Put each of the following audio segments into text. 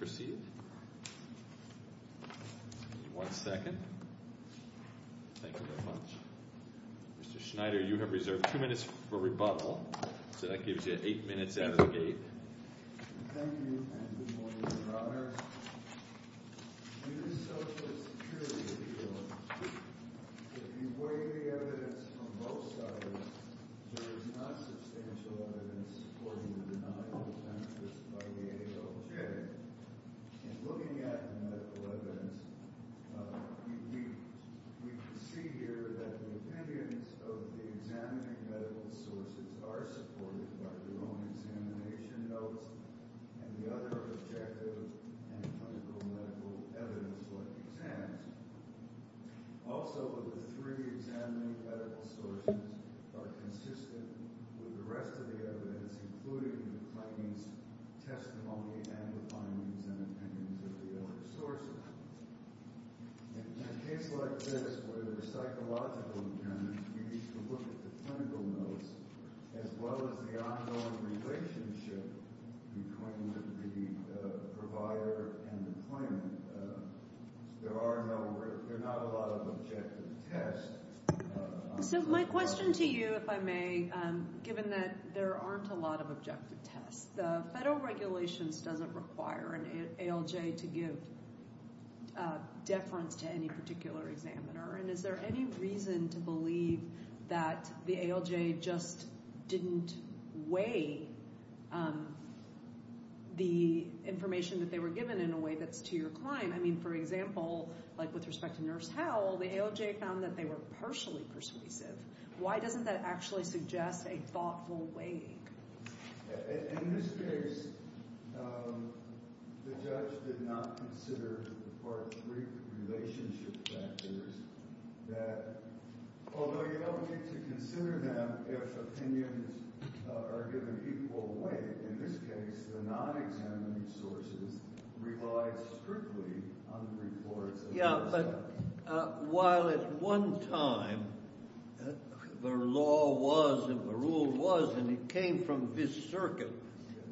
Mr. Schneider, you have reserved two minutes for rebuttal, so that gives you eight minutes out of the gate. Thank you, and good morning, Your Honors. Under the Social Security Appeal, if you weigh the evidence from both sides, there is not substantial evidence supporting the denial of benefits by the AHO. In looking at the medical evidence, we can see here that the opinions of the examining medical sources are supported by their own examination notes and the other objective and clinical medical evidence-led exams. Also, the three examining medical sources are consistent with the rest of the evidence, including the findings, testimony, and the findings and opinions of the other sources. In a case like this, where there are psychological determinants, you need to look at the clinical notes, as well as the ongoing relationship between the provider and the claimant. There are no, there are not a lot of objective tests. So, my question to you, if I may, given that there aren't a lot of objective tests, the federal regulations doesn't require an ALJ to give deference to any particular examiner, and is there any reason to believe that the ALJ just didn't weigh the information that they were given in a way that's to your client? I mean, for example, like with respect to Nurse Hell, the ALJ found that they were partially persuasive. Why doesn't that actually suggest a thoughtful weighing? In this case, the judge did not consider part three relationship factors that, although you don't need to consider them if opinions are given equal weight, in this case, the Yeah, but while at one time, the law was, and the rule was, and it came from this circuit,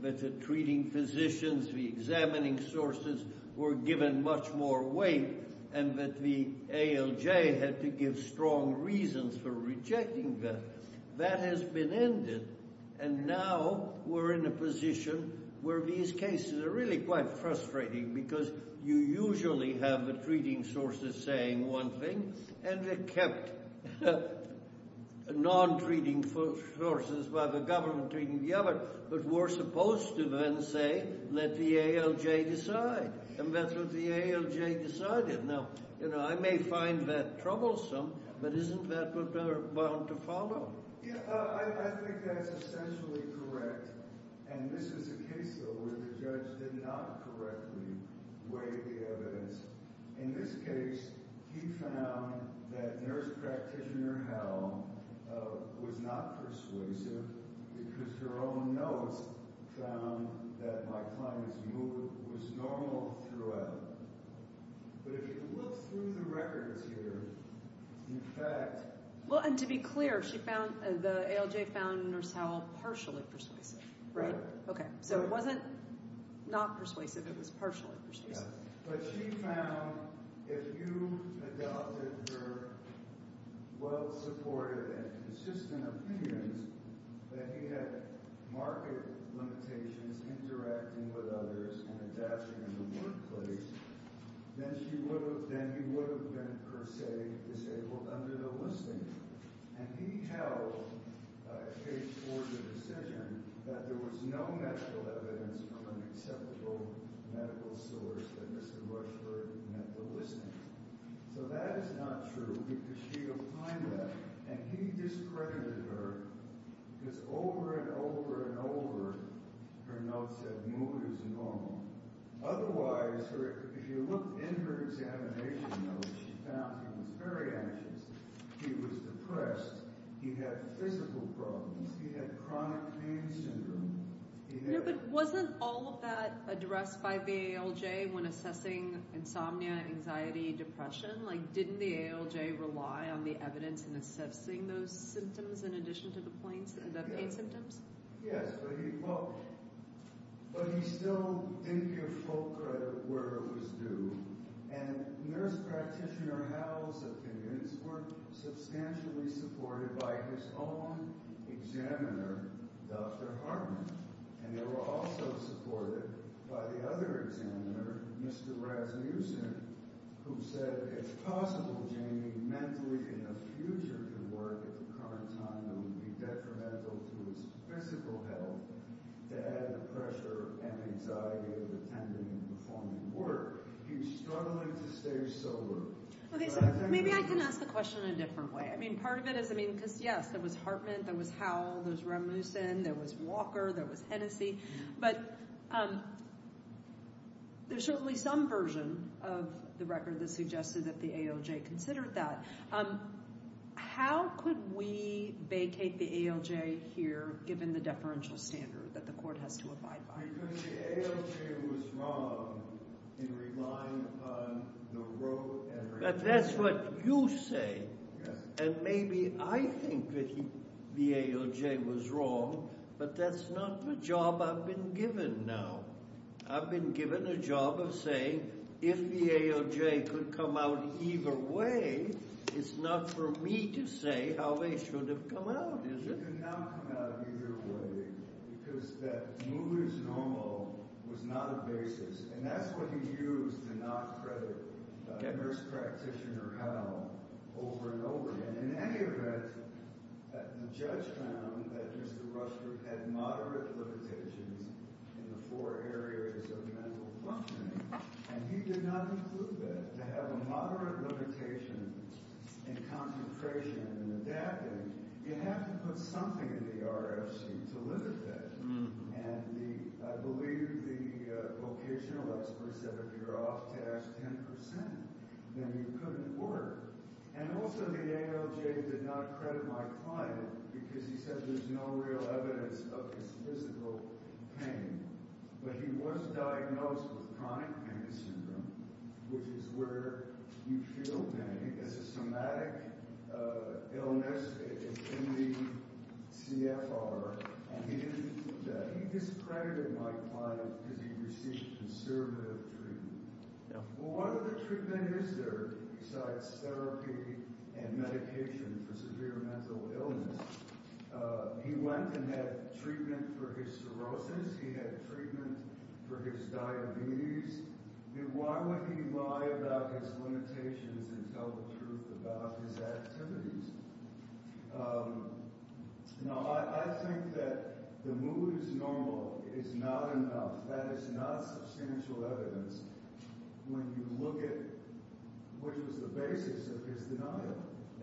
that the treating physicians, the examining sources, were given much more weight, and that the ALJ had to give strong reasons for rejecting them. That has been ended, and now we're in a position where these cases are really quite frustrating, because you usually have the treating sources saying one thing, and they kept non-treating sources by the government treating the other, but we're supposed to then say, let the ALJ decide, and that's what the ALJ decided. Now, you know, I may find that troublesome, but isn't that what they're bound to follow? Yeah, I think that's essentially correct, and this is a case, though, where the judge did not correctly weigh the evidence. In this case, he found that nurse practitioner Howell was not persuasive because her own notes found that my client's mood was normal throughout. But if you look through the records here, in fact Well, and to be clear, the ALJ found nurse Howell partially persuasive, right? Right. Okay, so it wasn't not persuasive, it was partially persuasive. But she found if you adopted her well-supported and consistent opinions, that he had market limitations interacting with others and adapting in the workplace, then you would have been, per se, disabled under the listing. And he held, case for the decision, that there was no medical evidence from an acceptable medical source that Mr. Rushford met the listing. So that is not true because she opined that, and he discredited her because over and over and over, her notes said mood is normal. Otherwise, if you looked in her examination notes, she found he was very anxious, he was depressed, he had physical problems, he had chronic pain syndrome. No, but wasn't all of that addressed by the ALJ when assessing insomnia, anxiety, depression? Like, didn't the ALJ rely on the evidence in assessing those symptoms in addition to the pain symptoms? Yes, but he still didn't give full credit where it was due, and Nurse Practitioner Howell's opinions were substantially supported by his own examiner, Dr. Hartman. And they were also supported by the other examiner, Mr. Rasmussen, who said, it's possible, Jamie, mentally in the future to work at the current time, it would be detrimental to his physical health to add the pressure and anxiety of attending and performing work. He was struggling to stay sober. Okay, so maybe I can ask the question in a different way. I mean, part of it is, I mean, because yes, there was Hartman, there was Howell, there's Rasmussen, there was Walker, there was Hennessy, but there's certainly some version of the ALJ considered that. How could we vacate the ALJ here, given the deferential standard that the court has to abide by? Because the ALJ was wrong in relying upon the wrote evidence. But that's what you say, and maybe I think that the ALJ was wrong, but that's not the job I've been given now. I've been given a job of saying, if the ALJ could come out either way, it's not for me to say how they should have come out, is it? They could not come out either way, because that mood is normal was not a basis. And that's what he used to knock credit nurse practitioner Howell over and over again. In any event, the judge found that Mr. Rushford had moderate limitations in the four areas of mental functioning, and he did not include that. To have a moderate limitation in concentration and adapting, you have to put something in the RFC to limit that. And I believe the vocational experts said, if you're off task 10%, then you couldn't work. And also, the ALJ did not credit my client, because he said there's no real evidence of his physical pain. But he was diagnosed with chronic pain syndrome, which is where you feel pain. It's a somatic illness in the CFR, and he didn't include that. He discredited my client because he received conservative treatment. Well, what other treatment is there besides therapy and medication for severe mental illness? He went and had treatment for his cirrhosis. He had treatment for his diabetes. Why would he lie about his limitations and tell the truth about his activities? Now, I think that the mood is normal is not enough. That is not substantial evidence when you look at what was the basis of his denial.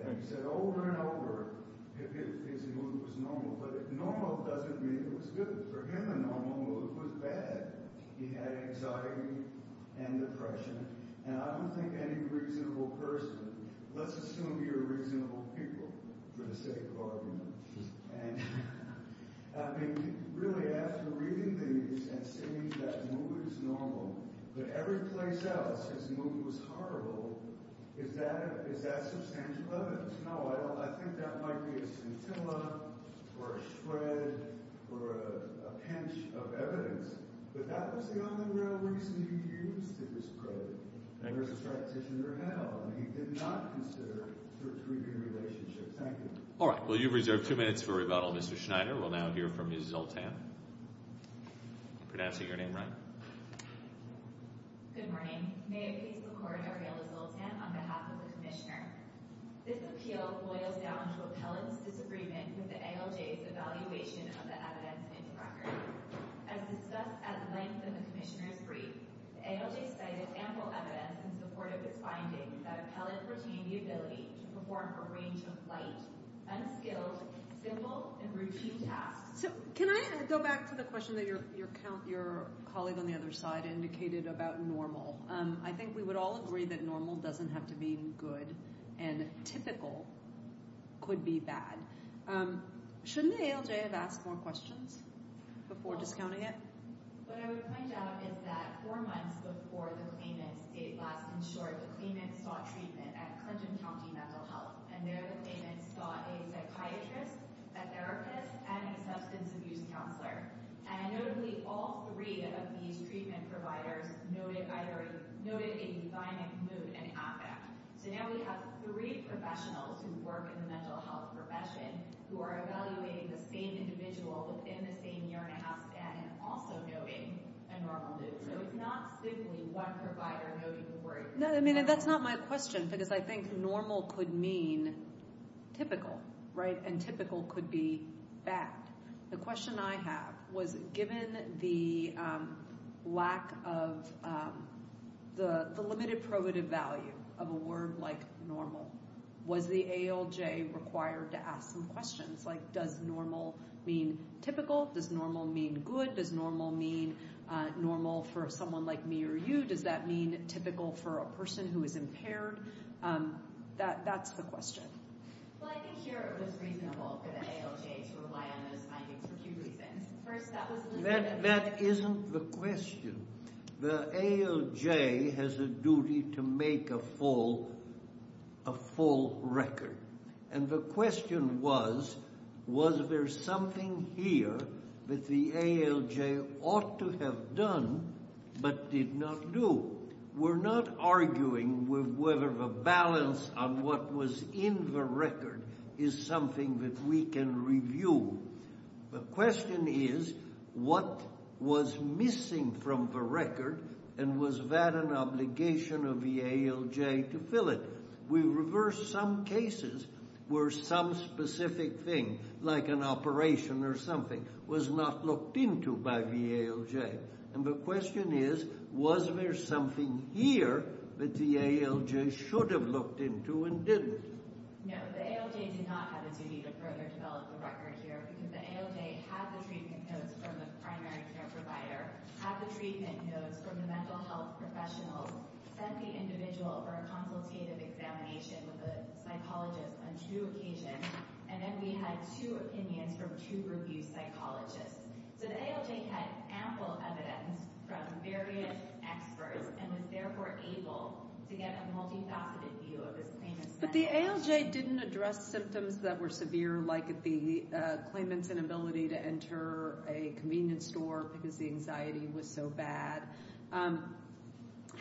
And he said over and over that his mood was normal. But normal doesn't mean it was good. For him, a normal mood was bad. He had anxiety and depression. And I don't think any reasonable person, let's assume you're a reasonable people, for the sake of argument. I mean, really, after reading these and seeing that mood is normal, but every place else his mood was horrible, is that substantial evidence? No, I think that might be a scintilla or a shred or a pinch of evidence. But that was the only real reason he used his credit versus practitioner hell. And he did not consider a tertiary relationship. Thank you. All right. Well, you've reserved two minutes for rebuttal, Mr. Schneider. We'll now hear from Ms. Zoltan. Pronouncing your name right. Good morning. May I please record Ariella Zoltan on behalf of the Commissioner? This appeal boils down to Appellant's disagreement with the ALJ's evaluation of the evidence in the record. As discussed at length in the Commissioner's brief, the ALJ cited ample evidence in support of its finding that Appellant retained the ability to perform a range of light, unskilled, simple, and routine tasks. So, can I go back to the question that your colleague on the other side indicated about normal? I think we would all agree that normal doesn't have to mean good, and typical could be bad. Shouldn't the ALJ have asked more questions before discounting it? What I would point out is that four months before the claimants, last in short, the claimants sought treatment at Clinton County Mental Health, and there the claimants sought a psychiatrist, a therapist, and a substance abuse counselor. And notably, all three of these treatment providers noted a divining mood and affect. So now we have three professionals who work in the mental health profession who are evaluating the same individual within the same year-and-a-half span and also noting a normal mood. So it's not simply one provider noting a worry. No, I mean, and that's not my question, because I think normal could mean typical, right? And typical could be bad. The question I have was, given the lack of the limited probative value of a word like Does normal mean typical? Does normal mean good? Does normal mean normal for someone like me or you? Does that mean typical for a person who is impaired? That's the question. Well, I think here it was reasonable for the ALJ to rely on those findings for a few reasons. First, that was a limited… That isn't the question. The ALJ has a duty to make a full record. And the question was, was there something here that the ALJ ought to have done but did not do? We're not arguing whether the balance on what was in the record is something that we can review. The question is, what was missing from the record, and was that an obligation of the ALJ to fill it? We reversed some cases where some specific thing, like an operation or something, was not looked into by the ALJ. And the question is, was there something here that the ALJ should have looked into and didn't? No. The ALJ did not have a duty to further develop the record here, because the ALJ had the treatment notes from the primary care provider, had the treatment notes from the mental health professionals, sent the individual for a consultative examination with a psychologist on two occasions, and then we had two opinions from two review psychologists. So the ALJ had ample evidence from various experts and was therefore able to get a multifaceted view of this famous… But the ALJ didn't address symptoms that were severe, like the claimant's inability to enter a convenience store because the anxiety was so bad.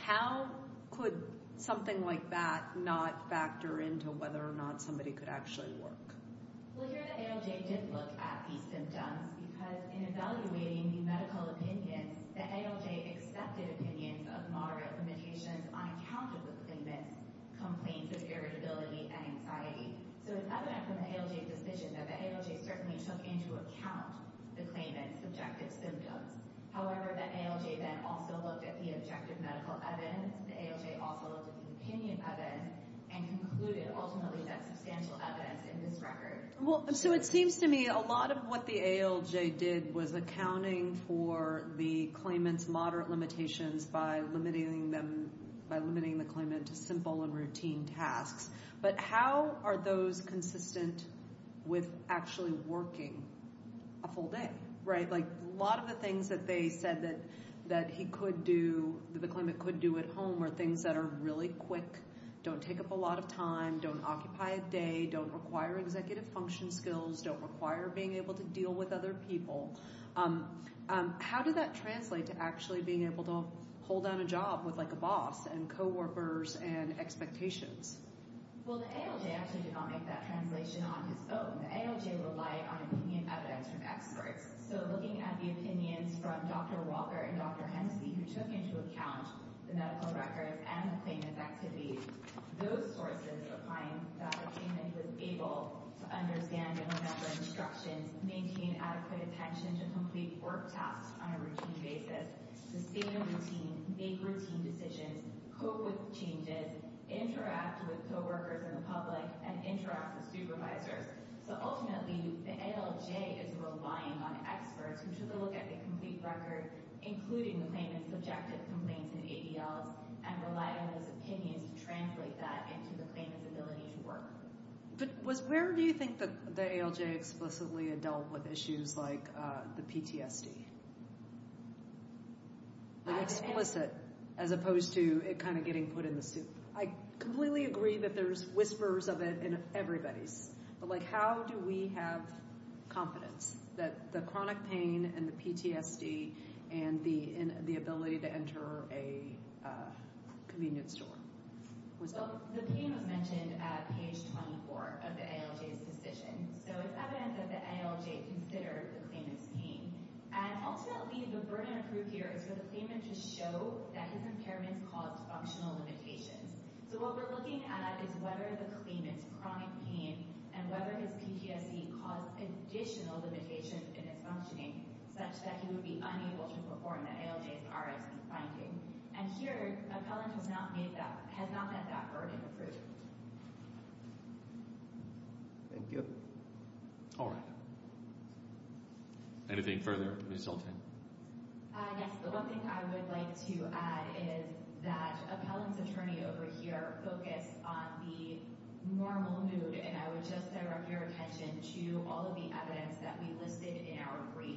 How could something like that not factor into whether or not somebody could actually work? Well, here the ALJ did look at these symptoms, because in evaluating the medical opinions, the ALJ accepted opinions of moderate limitations on account of the claimant's complaints of irritability and anxiety. So it's evident from the ALJ's decision that the ALJ certainly took into account the claimant's subjective symptoms. However, the ALJ then also looked at the objective medical evidence. The ALJ also looked at the opinion evidence and concluded, ultimately, that substantial evidence in this record… Well, so it seems to me a lot of what the ALJ did was accounting for the claimant's moderate limitations by limiting the claimant to simple and routine tasks. But how are those consistent with actually working a full day? Right. Like, a lot of the things that they said that he could do, that the claimant could do at home, are things that are really quick, don't take up a lot of time, don't occupy a day, don't require executive function skills, don't require being able to deal with other people. How did that translate to actually being able to hold down a job with, like, a boss and co-workers and expectations? Well, the ALJ actually did not make that translation on his own. The ALJ relied on opinion evidence from experts. So looking at the opinions from Dr. Walker and Dr. Hensley, who took into account the medical records and the claimant's activities, those sources are claiming that the claimant was able to understand governmental instructions, maintain adequate attention to complete work tasks on a routine basis, sustain a routine, make routine decisions, cope with changes, interact with co-workers and the public, and interact with supervisors. So ultimately, the ALJ is relying on experts who took a look at the complete record, including the claimant's subjective complaints and ADLs, and relied on those opinions to translate that into the claimant's ability to work. But where do you think the ALJ explicitly had dealt with issues like the PTSD? Like, explicit, as opposed to it kind of getting put in the soup. I completely agree that there's whispers of it in everybody's, but, like, how do we have confidence that the chronic pain and the PTSD and the ability to enter a convenience store was dealt with? So the pain was mentioned at page 24 of the ALJ's decision, so it's evident that the ALJ considered the claimant's pain. And ultimately, the burden of proof here is for the claimant to show that his impairments caused functional limitations. So what we're looking at is whether the claimant's chronic pain and whether his PTSD caused additional limitations in his functioning, such that he would be unable to perform the ALJ's RFC finding. And here, Appellant has not let that burden prove. Thank you. All right. Anything further, Ms. Zoltan? Yes, the one thing I would like to add is that Appellant's attorney over here focused on the normal mood, and I would just direct your attention to all of the evidence that we listed in our brief.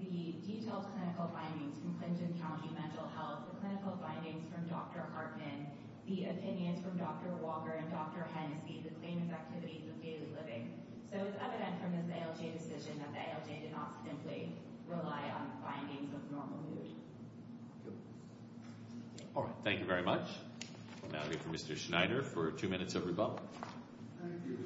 The detailed clinical findings from Clinton County Mental Health, the clinical findings from Dr. Hartman, the opinions from Dr. Walker and Dr. Hennessy, the claimant's activities of daily living. So it's evident from this ALJ decision that the ALJ did not simply rely on findings of normal mood. All right. Thank you very much. We'll now hear from Mr. Schneider for two minutes of rebuttal. Thank you.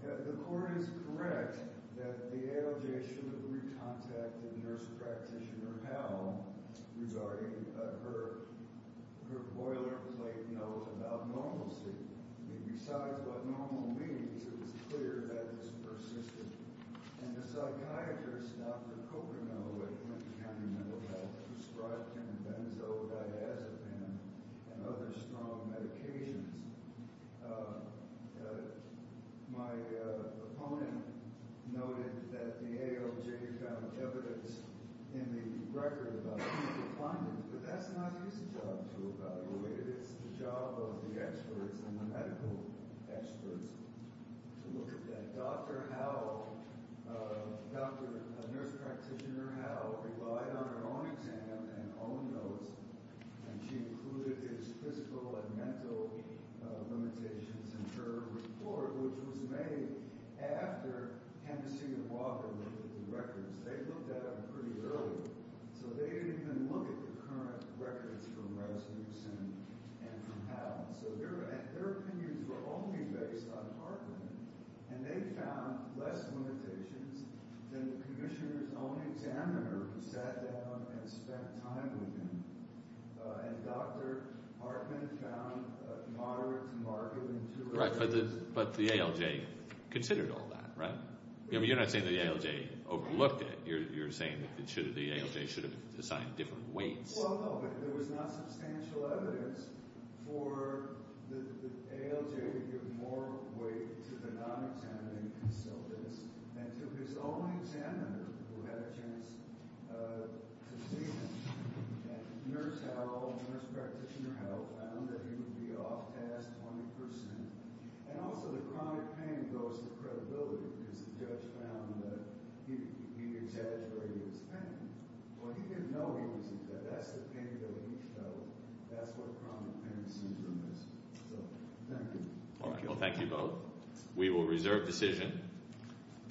The court is correct that the ALJ should have re-contacted nurse practitioner Howell regarding her boilerplate note about normalcy. Besides what normal means, it was clear that this persisted. And the psychiatrist, Dr. Kokernot, at Clinton County Mental Health, prescribed him benzo-diazepam and other strong medications. My opponent noted that the ALJ found evidence in the record about clinical findings, but that's not his job to evaluate it. It's the job of the experts and the medical experts to look at that. Dr. Howell, nurse practitioner Howell, relied on her own exam and own notes, and she included his physical and mental limitations in her report, which was made after Hennessy and Walker looked at the records. They looked at it pretty early, so they didn't even look at the current records from Rasmussen and from Howell. So their opinions were only based on Hartman, and they found less limitations than the commissioner's own examiner who sat down and spent time with him. And Dr. Hartman found moderate to marginal to relative. But the ALJ considered all that, right? I mean, you're not saying that the ALJ overlooked it. You're saying that the ALJ should have assigned different weights. Well, there was not substantial evidence for the ALJ to give more weight to the non-examining consultants and to his own examiner who had a chance to see him. And nurse Howell, nurse practitioner Howell, found that he would be off task 20 percent. And also the chronic pain goes to credibility because the judge found that he exaggerated his pain. Well, he didn't know he was exaggerated. That's the pain that he showed. That's what chronic pain syndrome is. So thank you. All right, well, thank you both. We will reserve decision.